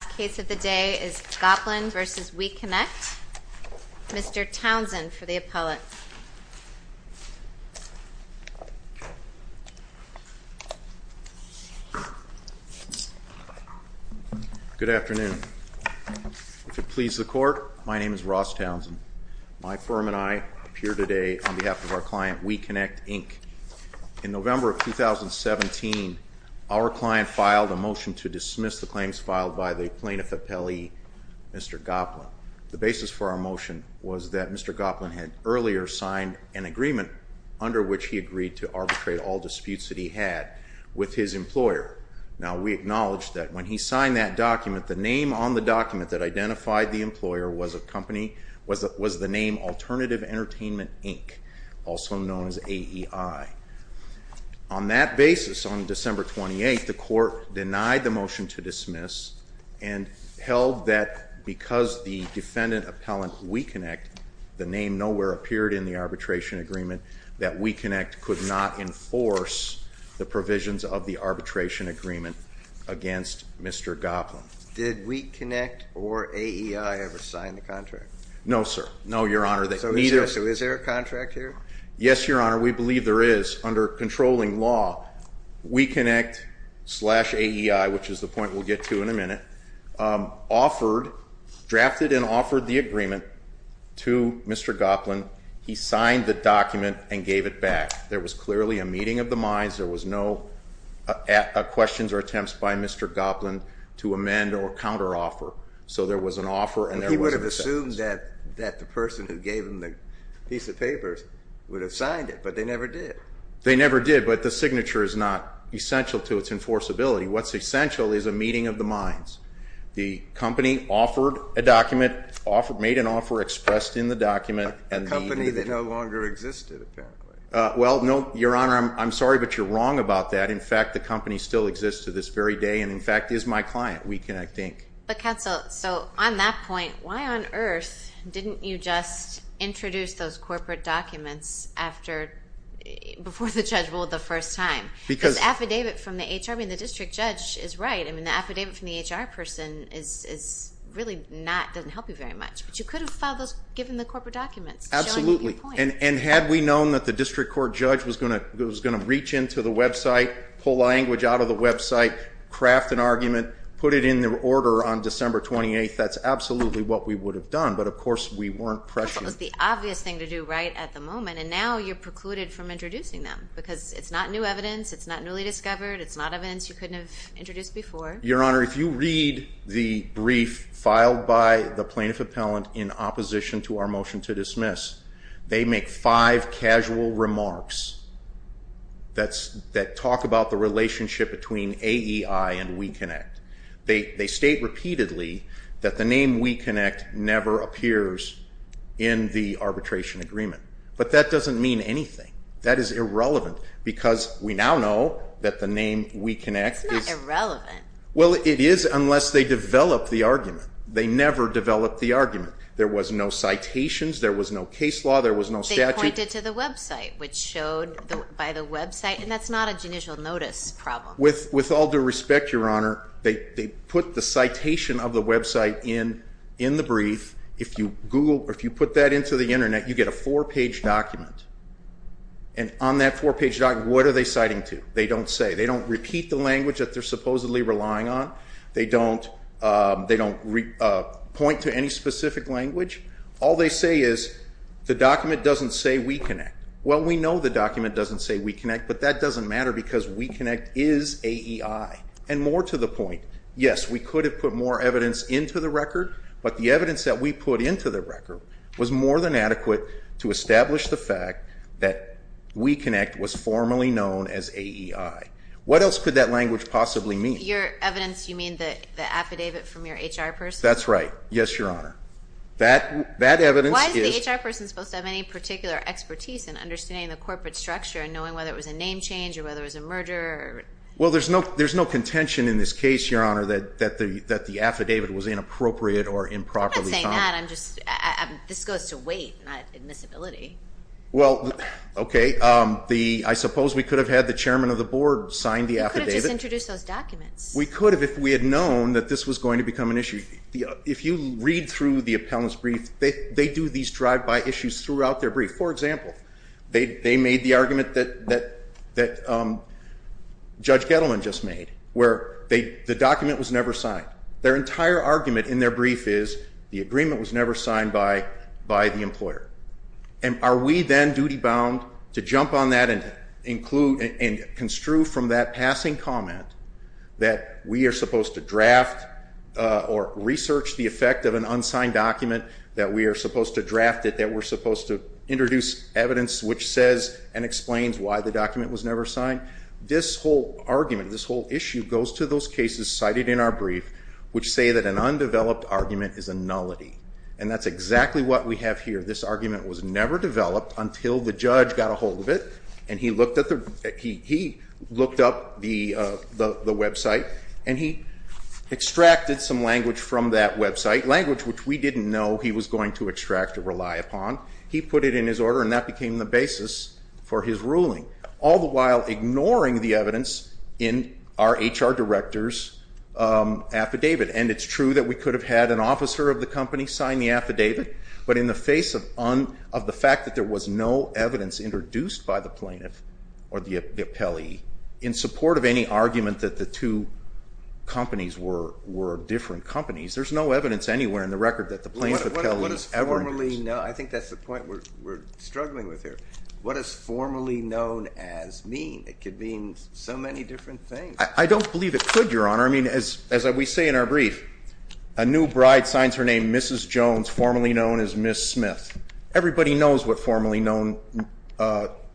The last case of the day is Goplin v. WeConnect. Mr. Townsend for the appellate. Good afternoon. If it pleases the court, my name is Ross Townsend. My firm and I appear today on behalf of our client, WeConnect, Inc. In November of 2017, our client filed a motion to dismiss the claims filed by the plaintiff appellee, Mr. Goplin. The basis for our motion was that Mr. Goplin had earlier signed an agreement under which he agreed to arbitrate all disputes that he had with his employer. Now, we acknowledge that when he signed that document, the name on the document that identified the employer was the name Alternative Entertainment, Inc., also known as AEI. On that basis, on December 28, the court denied the motion to dismiss and held that because the defendant appellant, WeConnect, the name nowhere appeared in the arbitration agreement, that WeConnect could not enforce the provisions of the arbitration agreement against Mr. Goplin. Did WeConnect or AEI ever sign the contract? No, sir. No, Your Honor. So is there a contract here? Yes, Your Honor. We believe there is. Under controlling law, WeConnect slash AEI, which is the point we'll get to in a minute, offered, drafted and offered the agreement to Mr. Goplin. He signed the document and gave it back. There was clearly a meeting of the minds. There was no questions or attempts by Mr. Goplin to amend or counteroffer. So there was an offer and there was an offense. I assumed that the person who gave him the piece of paper would have signed it, but they never did. They never did, but the signature is not essential to its enforceability. What's essential is a meeting of the minds. The company offered a document, made an offer, expressed in the document. A company that no longer existed, apparently. Well, no, Your Honor, I'm sorry, but you're wrong about that. In fact, the company still exists to this very day and, in fact, is my client, WeConnect, Inc. But, counsel, so on that point, why on earth didn't you just introduce those corporate documents before the judge ruled the first time? Because the affidavit from the HR, I mean, the district judge is right. I mean, the affidavit from the HR person is really not, doesn't help you very much. But you could have filed those, given the corporate documents. Absolutely. And had we known that the district court judge was going to reach into the website, pull language out of the website, craft an argument, put it in the order on December 28th, that's absolutely what we would have done. But, of course, we weren't prescient. That was the obvious thing to do right at the moment. And now you're precluded from introducing them because it's not new evidence. It's not newly discovered. It's not evidence you couldn't have introduced before. Your Honor, if you read the brief filed by the plaintiff appellant in opposition to our motion to dismiss, they make five casual remarks that talk about the relationship between AEI and WeConnect. They state repeatedly that the name WeConnect never appears in the arbitration agreement. But that doesn't mean anything. That is irrelevant because we now know that the name WeConnect is... It's not irrelevant. Well, it is unless they develop the argument. They never developed the argument. There was no citations. There was no case law. There was no statute. They pointed to the website, which showed by the website, and that's not a judicial notice problem. With all due respect, Your Honor, they put the citation of the website in the brief. If you put that into the Internet, you get a four-page document. And on that four-page document, what are they citing to? They don't say. They don't repeat the language that they're supposedly relying on. They don't point to any specific language. All they say is the document doesn't say WeConnect. Well, we know the document doesn't say WeConnect, but that doesn't matter because WeConnect is AEI. And more to the point, yes, we could have put more evidence into the record, but the evidence that we put into the record was more than adequate to establish the fact that WeConnect was formerly known as AEI. What else could that language possibly mean? Your evidence, you mean the affidavit from your HR person? That's right. Yes, Your Honor. Why is the HR person supposed to have any particular expertise in understanding the corporate structure and knowing whether it was a name change or whether it was a merger? Well, there's no contention in this case, Your Honor, that the affidavit was inappropriate or improperly found. I'm not saying that. This goes to weight, not admissibility. Well, okay. I suppose we could have had the chairman of the board sign the affidavit. We could have just introduced those documents. We could have if we had known that this was going to become an issue. If you read through the appellant's brief, they do these drive-by issues throughout their brief. For example, they made the argument that Judge Gettleman just made where the document was never signed. Their entire argument in their brief is the agreement was never signed by the employer. Are we then duty-bound to jump on that and construe from that passing comment that we are supposed to draft or research the effect of an unsigned document, that we are supposed to draft it, that we're supposed to introduce evidence which says and explains why the document was never signed? This whole argument, this whole issue goes to those cases cited in our brief which say that an undeveloped argument is a nullity. And that's exactly what we have here. This argument was never developed until the judge got a hold of it, and he looked up the website, and he extracted some language from that website, language which we didn't know he was going to extract or rely upon. He put it in his order, and that became the basis for his ruling, all the while ignoring the evidence in our HR director's affidavit. And it's true that we could have had an officer of the company sign the affidavit, but in the face of the fact that there was no evidence introduced by the plaintiff or the appellee in support of any argument that the two companies were different companies, there's no evidence anywhere in the record that the plaintiff or the appellee ever did this. I think that's the point we're struggling with here. What does formerly known as mean? It could mean so many different things. I don't believe it could, Your Honor. I mean, as we say in our brief, a new bride signs her name Mrs. Jones, formerly known as Miss Smith. Everybody knows what formerly known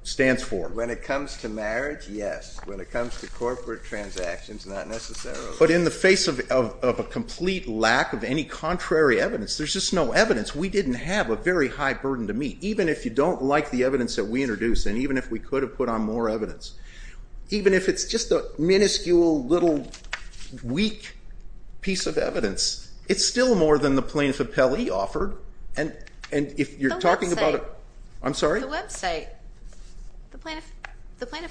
stands for. When it comes to marriage, yes. When it comes to corporate transactions, not necessarily. But in the face of a complete lack of any contrary evidence, there's just no evidence. We didn't have a very high burden to meet. Even if you don't like the evidence that we introduced, and even if we could have put on more evidence, even if it's just a minuscule little weak piece of evidence, it's still more than the plaintiff appellee offered. And if you're talking about... The website. I'm sorry? The website. The plaintiff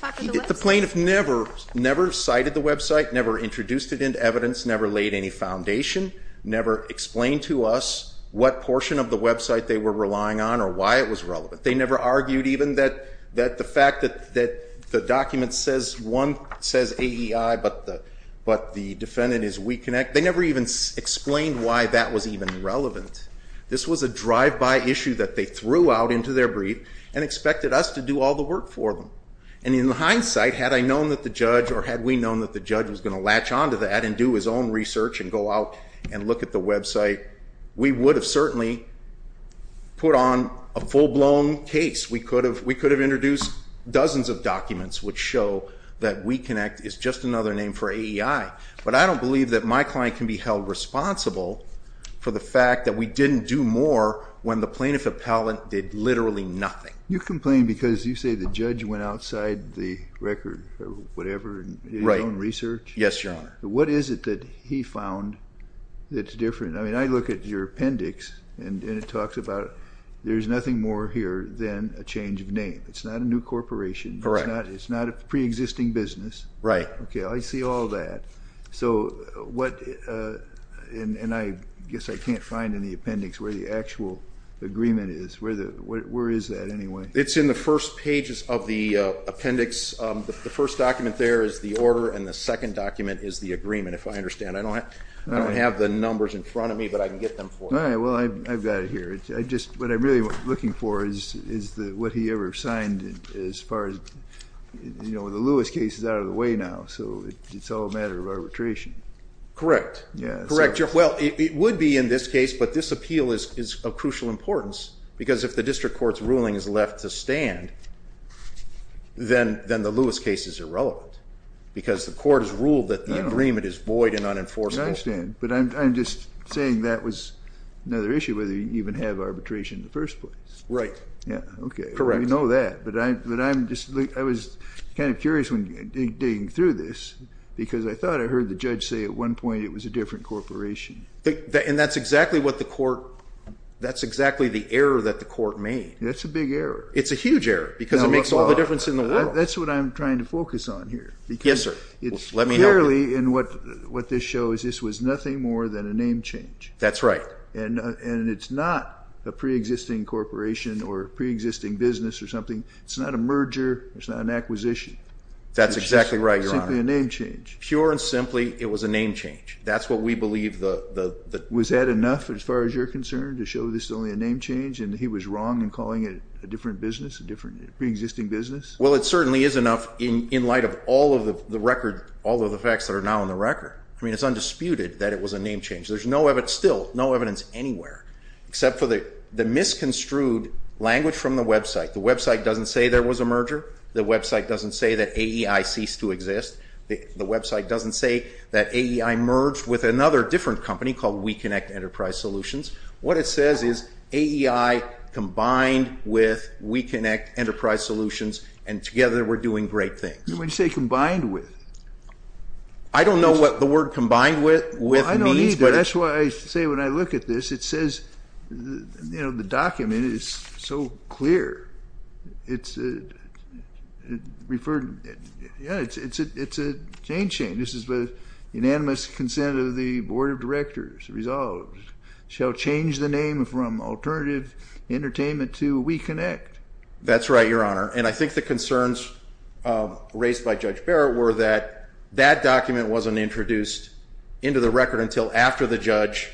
offered the website. The plaintiff never cited the website, never introduced it into evidence, never laid any foundation, never explained to us what portion of the website they were relying on or why it was relevant. They never argued even that the fact that the document says one, says AEI, but the defendant is We Connect. They never even explained why that was even relevant. This was a drive-by issue that they threw out into their brief and expected us to do all the work for them. And in hindsight, had I known that the judge, or had we known that the judge was going to latch onto that and do his own research and go out and look at the website, we would have certainly put on a full-blown case. We could have introduced dozens of documents which show that We Connect is just another name for AEI. But I don't believe that my client can be held responsible for the fact that we didn't do more when the plaintiff appellate did literally nothing. You complain because you say the judge went outside the record or whatever and did his own research? Right. Yes, Your Honor. What is it that he found that's different? I mean, I look at your appendix and it talks about there's nothing more here than a change of name. It's not a new corporation. Correct. It's not a preexisting business. Right. Okay, I see all that. So what and I guess I can't find in the appendix where the actual agreement is. Where is that anyway? It's in the first pages of the appendix. The first document there is the order and the second document is the agreement, if I understand. I don't have the numbers in front of me, but I can get them for you. All right, well, I've got it here. What I'm really looking for is what he ever signed as far as, you know, the Lewis case is out of the way now, so it's all a matter of arbitration. Correct. Correct, Your Honor. Well, it would be in this case, but this appeal is of crucial importance because if the district court's ruling is left to stand, then the Lewis case is irrelevant because the court has ruled that the agreement is void and unenforceable. I understand, but I'm just saying that was another issue, whether you even have arbitration in the first place. Right. Yeah, okay. Correct. I know that, but I'm just, I was kind of curious when digging through this because I thought I heard the judge say at one point it was a different corporation. And that's exactly what the court, that's exactly the error that the court made. That's a big error. It's a huge error because it makes all the difference in the world. That's what I'm trying to focus on here. Yes, sir. Let me help you. It's clearly in what this shows, this was nothing more than a name change. That's right. And it's not a preexisting corporation or a preexisting business or something. It's not a merger. It's not an acquisition. That's exactly right, Your Honor. It's simply a name change. Pure and simply, it was a name change. That's what we believe the- Was that enough as far as you're concerned to show this is only a name change and he was wrong in calling it a different business, a different preexisting business? Well, it certainly is enough in light of all of the facts that are now on the record. I mean, it's undisputed that it was a name change. There's still no evidence anywhere except for the misconstrued language from the website. The website doesn't say there was a merger. The website doesn't say that AEI ceased to exist. The website doesn't say that AEI merged with another different company called WeConnect Enterprise Solutions. What it says is AEI combined with WeConnect Enterprise Solutions, and together we're doing great things. What do you say combined with? I don't know what the word combined with means. Well, I don't either. That's why I say when I look at this, it says the document is so clear. It's a chain change. This is the unanimous consent of the Board of Directors resolved shall change the name from Alternative Entertainment to WeConnect. That's right, Your Honor. And I think the concerns raised by Judge Barrett were that that document wasn't introduced into the record until after the judge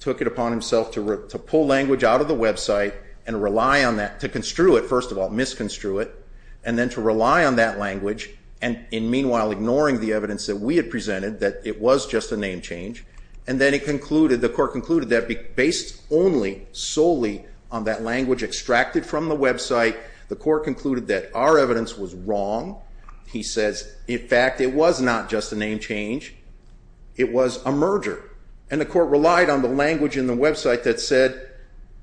took it upon himself to pull language out of the website and rely on that, to construe it, first of all, and then to rely on that language, and in meanwhile ignoring the evidence that we had presented that it was just a name change. And then it concluded, the court concluded that based only solely on that language extracted from the website, the court concluded that our evidence was wrong. He says, in fact, it was not just a name change. It was a merger. And the court relied on the language in the website that said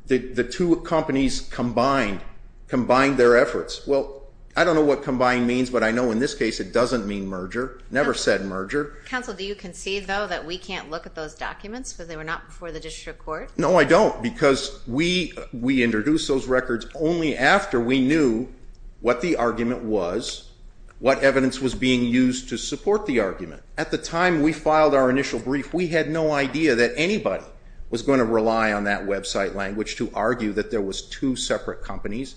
the two companies combined, combined their efforts. Well, I don't know what combined means, but I know in this case it doesn't mean merger. Never said merger. Counsel, do you concede, though, that we can't look at those documents because they were not before the district court? No, I don't, because we introduced those records only after we knew what the argument was, what evidence was being used to support the argument. At the time we filed our initial brief, we had no idea that anybody was going to rely on that website language to argue that there was two separate companies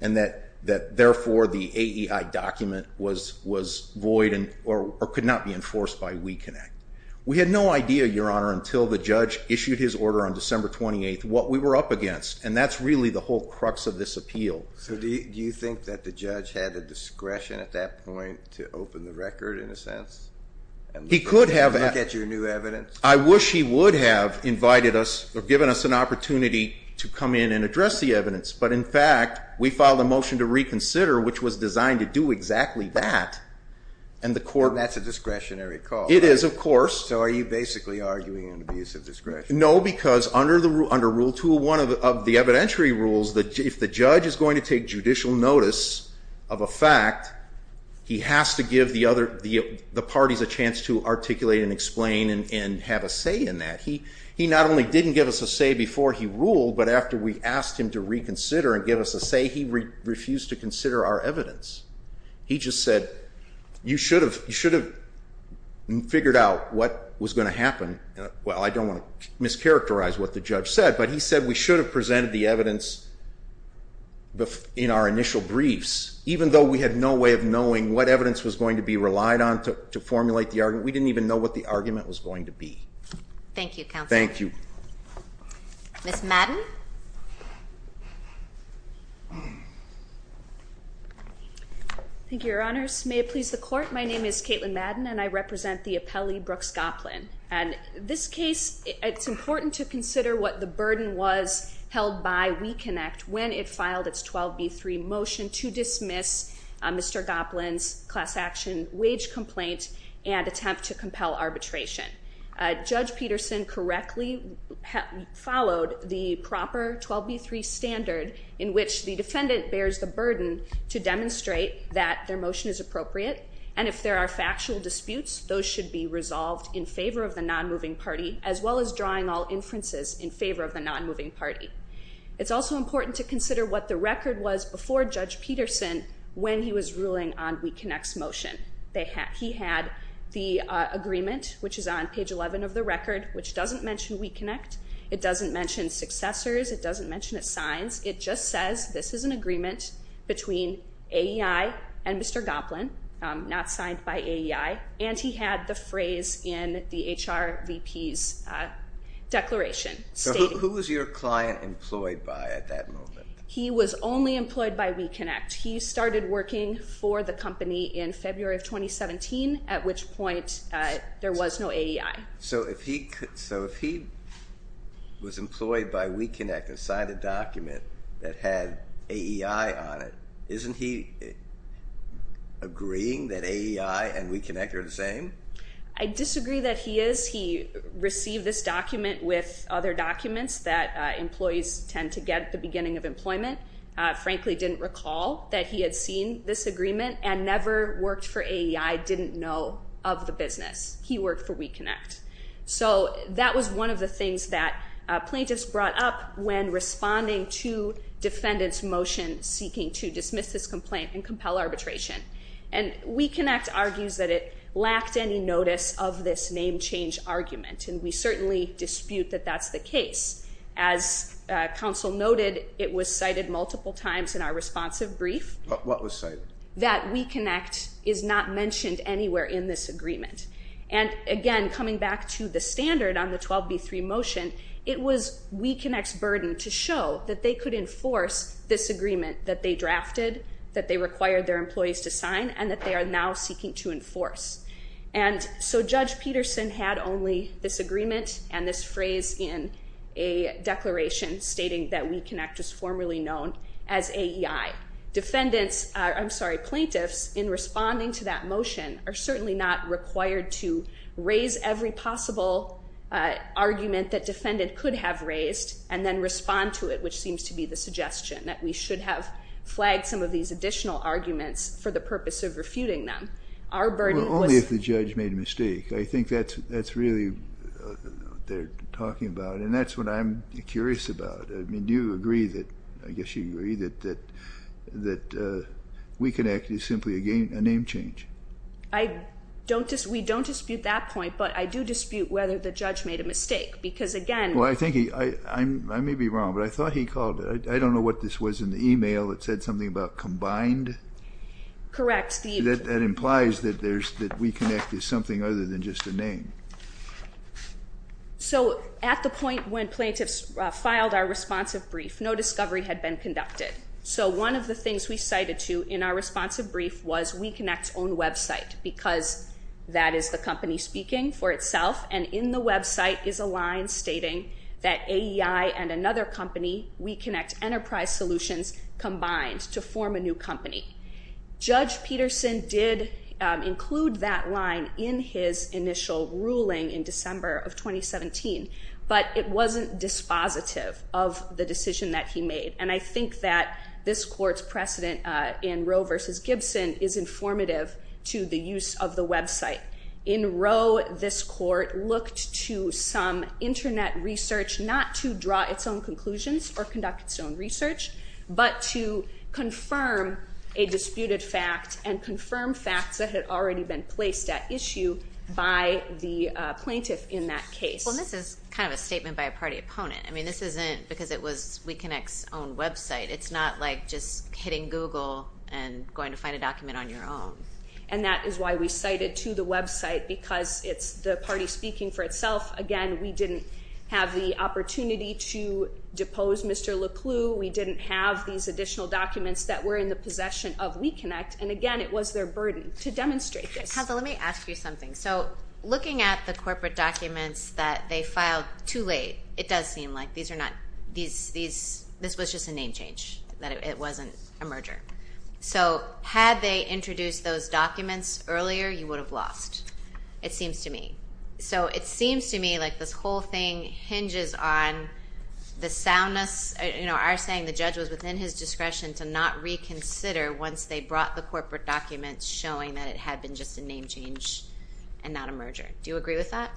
and that, therefore, the AEI document was void or could not be enforced by WeConnect. We had no idea, Your Honor, until the judge issued his order on December 28th what we were up against, and that's really the whole crux of this appeal. So do you think that the judge had the discretion at that point to open the record, in a sense? He could have. Look at your new evidence? I wish he would have invited us or given us an opportunity to come in and address the evidence. But, in fact, we filed a motion to reconsider, which was designed to do exactly that. And that's a discretionary call. It is, of course. So are you basically arguing an abuse of discretion? No, because under Rule 201 of the evidentiary rules, if the judge is going to take judicial notice of a fact, he has to give the parties a chance to articulate and explain and have a say in that. He not only didn't give us a say before he ruled, but after we asked him to reconsider and give us a say, he refused to consider our evidence. He just said, you should have figured out what was going to happen. Well, I don't want to mischaracterize what the judge said, but he said we should have presented the evidence in our initial briefs, even though we had no way of knowing what evidence was going to be relied on to formulate the argument. We didn't even know what the argument was going to be. Thank you, Counselor. Thank you. Ms. Madden? Thank you, Your Honors. May it please the Court, my name is Caitlin Madden, and I represent the appellee, Brooke Scotland. And this case, it's important to consider what the burden was held by WeConnect when it filed its 12B3 motion to dismiss Mr. Goplin's class action wage complaint and attempt to compel arbitration. Judge Peterson correctly followed the proper 12B3 standard in which the defendant bears the burden to demonstrate that their motion is appropriate, and if there are factual disputes, those should be resolved in favor of the non-moving party, as well as drawing all inferences in favor of the non-moving party. It's also important to consider what the record was before Judge Peterson when he was ruling on WeConnect's motion. He had the agreement, which is on page 11 of the record, which doesn't mention WeConnect. It doesn't mention successors. It doesn't mention its signs. It just says this is an agreement between AEI and Mr. Goplin, not signed by AEI, and he had the phrase in the HRVP's declaration. So who was your client employed by at that moment? He was only employed by WeConnect. He started working for the company in February of 2017, at which point there was no AEI. So if he was employed by WeConnect and signed a document that had AEI on it, isn't he agreeing that AEI and WeConnect are the same? I disagree that he is. He received this document with other documents that employees tend to get at the beginning of employment, frankly didn't recall that he had seen this agreement and never worked for AEI, didn't know of the business. He worked for WeConnect. So that was one of the things that plaintiffs brought up when responding to defendants' motion seeking to dismiss this complaint and compel arbitration. And WeConnect argues that it lacked any notice of this name change argument, and we certainly dispute that that's the case. As counsel noted, it was cited multiple times in our responsive brief. What was cited? That WeConnect is not mentioned anywhere in this agreement. And, again, coming back to the standard on the 12B3 motion, it was WeConnect's burden to show that they could enforce this agreement that they drafted, that they required their employees to sign, and that they are now seeking to enforce. And so Judge Peterson had only this agreement and this phrase in a declaration stating that WeConnect was formerly known as AEI. Plaintiffs, in responding to that motion, are certainly not required to raise every possible argument that defendant could have raised and then respond to it, which seems to be the suggestion, that we should have flagged some of these additional arguments for the purpose of refuting them. Well, only if the judge made a mistake. I think that's really what they're talking about, and that's what I'm curious about. I mean, do you agree that, I guess you agree, that WeConnect is simply a name change? We don't dispute that point, but I do dispute whether the judge made a mistake. Because, again, Well, I think he, I may be wrong, but I thought he called, I don't know what this was in the email that said something about combined. Correct. So at the point when plaintiffs filed our responsive brief, no discovery had been conducted. So one of the things we cited to in our responsive brief was WeConnect's own website because that is the company speaking for itself, and in the website is a line stating that AEI and another company, WeConnect Enterprise Solutions, combined to form a new company. Judge Peterson did include that line in his initial ruling in December of 2017, but it wasn't dispositive of the decision that he made, and I think that this court's precedent in Roe v. Gibson is informative to the use of the website. In Roe, this court looked to some Internet research not to draw its own conclusions or conduct its own research, but to confirm a disputed fact and confirm facts that had already been placed at issue by the plaintiff in that case. Well, this is kind of a statement by a party opponent. I mean, this isn't because it was WeConnect's own website. It's not like just hitting Google and going to find a document on your own. And that is why we cited to the website because it's the party speaking for itself. Again, we didn't have the opportunity to depose Mr. LeClew. We didn't have these additional documents that were in the possession of WeConnect, and again, it was their burden to demonstrate this. Hazel, let me ask you something. So looking at the corporate documents that they filed too late, it does seem like this was just a name change, that it wasn't a merger. So had they introduced those documents earlier, you would have lost, it seems to me. So it seems to me like this whole thing hinges on the soundness, our saying the judge was within his discretion to not reconsider once they brought the corporate documents showing that it had been just a name change and not a merger. Do you agree with that?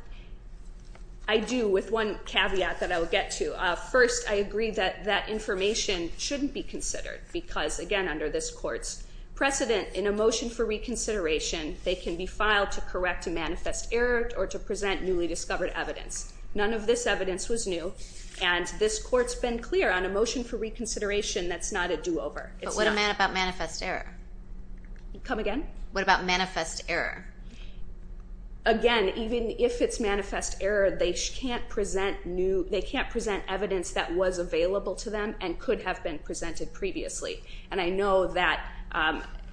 I do, with one caveat that I will get to. First, I agree that that information shouldn't be considered because, again, under this court's precedent, in a motion for reconsideration, they can be filed to correct a manifest error or to present newly discovered evidence. None of this evidence was new, and this court's been clear on a motion for reconsideration that's not a do-over. But what about manifest error? Come again? What about manifest error? Again, even if it's manifest error, they can't present evidence that was available to them and could have been presented previously. And I know that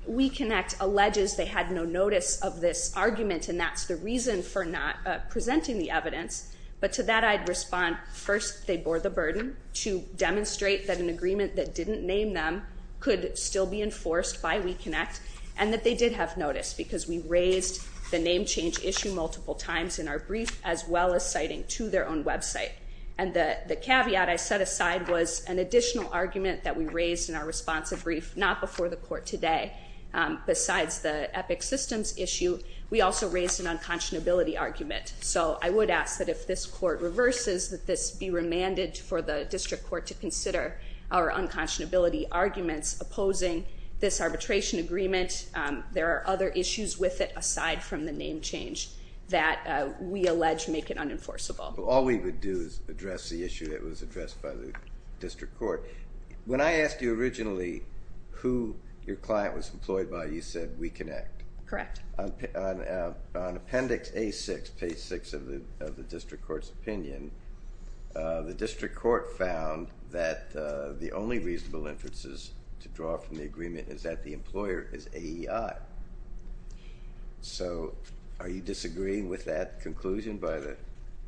WeConnect alleges they had no notice of this argument, and that's the reason for not presenting the evidence, but to that I'd respond first they bore the burden to demonstrate that an agreement that didn't name them could still be enforced by WeConnect and that they did have notice because we raised the name change issue multiple times in our brief as well as citing to their own website. And the caveat I set aside was an additional argument that we raised in our responsive brief not before the court today. Besides the EPIC systems issue, we also raised an unconscionability argument. So I would ask that if this court reverses, that this be remanded for the district court to consider our unconscionability arguments opposing this arbitration agreement. There are other issues with it aside from the name change that we allege make it unenforceable. All we would do is address the issue that was addressed by the district court. When I asked you originally who your client was employed by, you said WeConnect. Correct. On appendix A6, page 6 of the district court's opinion, the district court found that the only reasonable inferences to draw from the agreement is that the employer is AEI. So are you disagreeing with that conclusion by the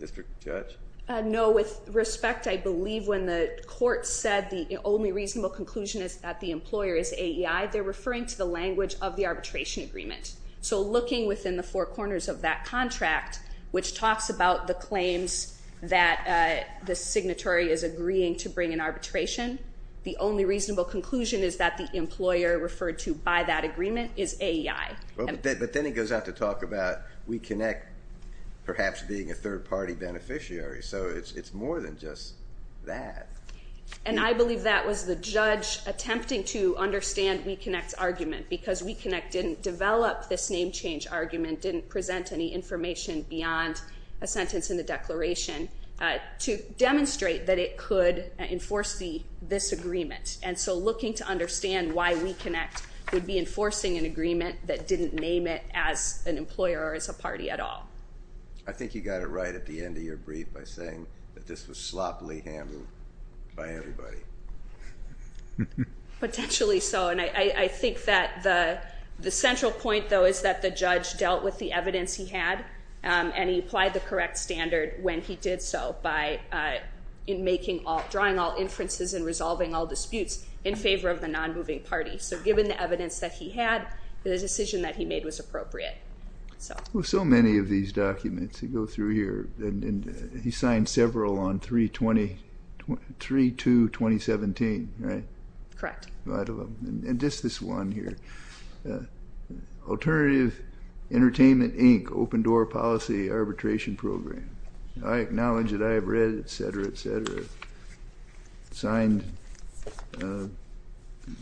district judge? No. With respect, I believe when the court said the only reasonable conclusion is that the employer is AEI, they're referring to the language of the arbitration agreement. So looking within the four corners of that contract, which talks about the claims that the signatory is agreeing to bring in arbitration, the only reasonable conclusion is that the employer referred to by that agreement is AEI. But then it goes out to talk about WeConnect perhaps being a third-party beneficiary. So it's more than just that. And I believe that was the judge attempting to understand WeConnect's argument because WeConnect didn't develop this name change argument, didn't present any information beyond a sentence in the declaration, to demonstrate that it could enforce this agreement. And so looking to understand why WeConnect would be enforcing an agreement that didn't name it as an employer or as a party at all. I think you got it right at the end of your brief by saying that this was sloppily handled by everybody. Potentially so, and I think that the central point, though, is that the judge dealt with the evidence he had, and he applied the correct standard when he did so by drawing all inferences and resolving all disputes in favor of the non-moving party. So given the evidence that he had, the decision that he made was appropriate. So many of these documents go through here, and he signed several on 3-2-2017, right? Correct. And just this one here, Alternative Entertainment, Inc., Open Door Policy Arbitration Program. I acknowledge that I have read, et cetera, et cetera, signed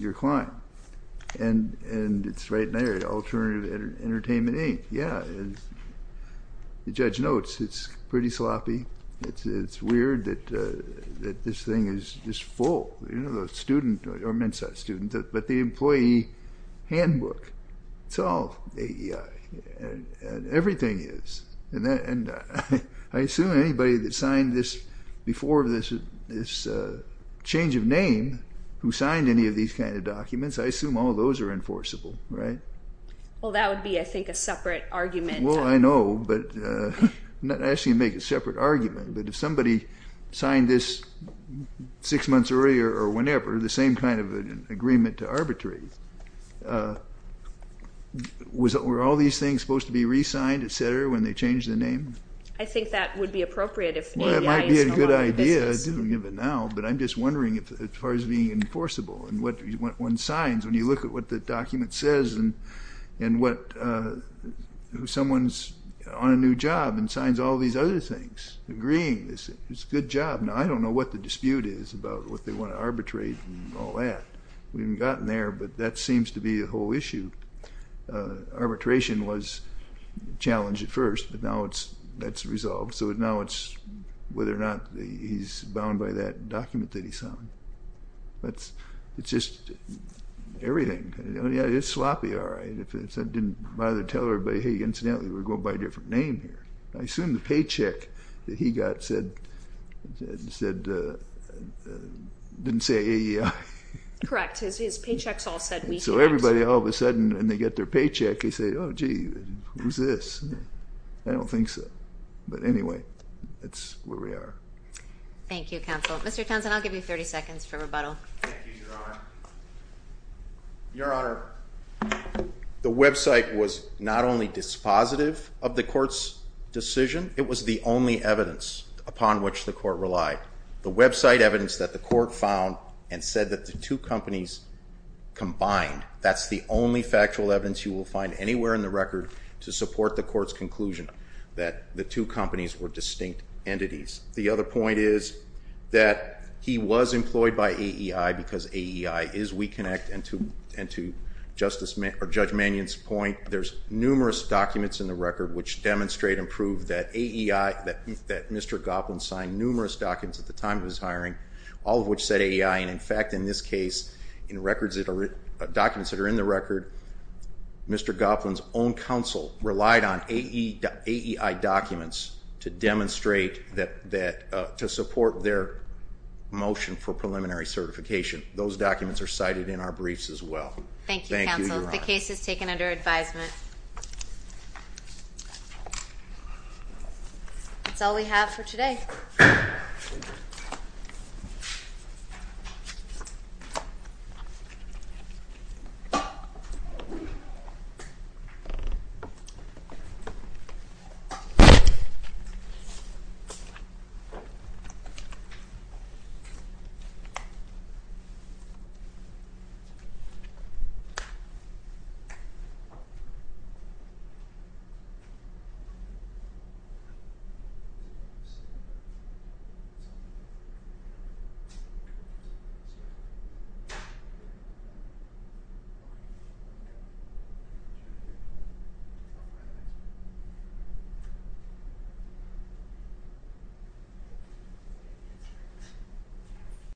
your client. And it's right in there, Alternative Entertainment, Inc. Yeah, and the judge notes it's pretty sloppy. It's weird that this thing is just full. You know, the student, or men's side student, but the employee handbook, it's all AEI. Everything is, and I assume anybody that signed this before this change of name who signed any of these kind of documents, I assume all those are enforceable, right? Well, that would be, I think, a separate argument. Well, I know, but I'm not asking you to make a separate argument, but if somebody signed this six months earlier or whenever, the same kind of agreement to arbitrate, were all these things supposed to be re-signed, et cetera, when they changed the name? I think that would be appropriate if AEI is no longer in business. Well, that might be a good idea, I do think of it now, but I'm just wondering as far as being enforceable and what one signs when you look at what the document says and what someone's on a new job and signs all these other things, agreeing, it's a good job. I don't know what the dispute is about what they want to arbitrate and all that. We haven't gotten there, but that seems to be the whole issue. Arbitration was a challenge at first, but now that's resolved, so now it's whether or not he's bound by that document that he signed. It's just everything. It's sloppy, all right, if it didn't bother to tell everybody, hey, incidentally, we're going by a different name here. I assume the paycheck that he got said, didn't say AEI. Correct, his paychecks all said we. So everybody all of a sudden, when they get their paycheck, they say, oh, gee, who's this? I don't think so, but anyway, that's where we are. Thank you, counsel. Mr. Townsend, I'll give you 30 seconds for rebuttal. Thank you, Your Honor. Your Honor, the website was not only dispositive of the court's decision, it was the only evidence upon which the court relied. The website evidence that the court found and said that the two companies combined, that's the only factual evidence you will find anywhere in the record to support the court's conclusion that the two companies were distinct entities. The other point is that he was employed by AEI because AEI is WeConnect, and to Judge Mannion's point, there's numerous documents in the record which demonstrate and prove that Mr. Goplin signed numerous documents at the time of his hiring, all of which said AEI. In fact, in this case, in documents that are in the record, Mr. Goplin's own counsel relied on AEI documents to demonstrate to support their motion for preliminary certification. Those documents are cited in our briefs as well. Thank you, counsel. The case is taken under advisement. That's all we have for today. Thank you. Thank you.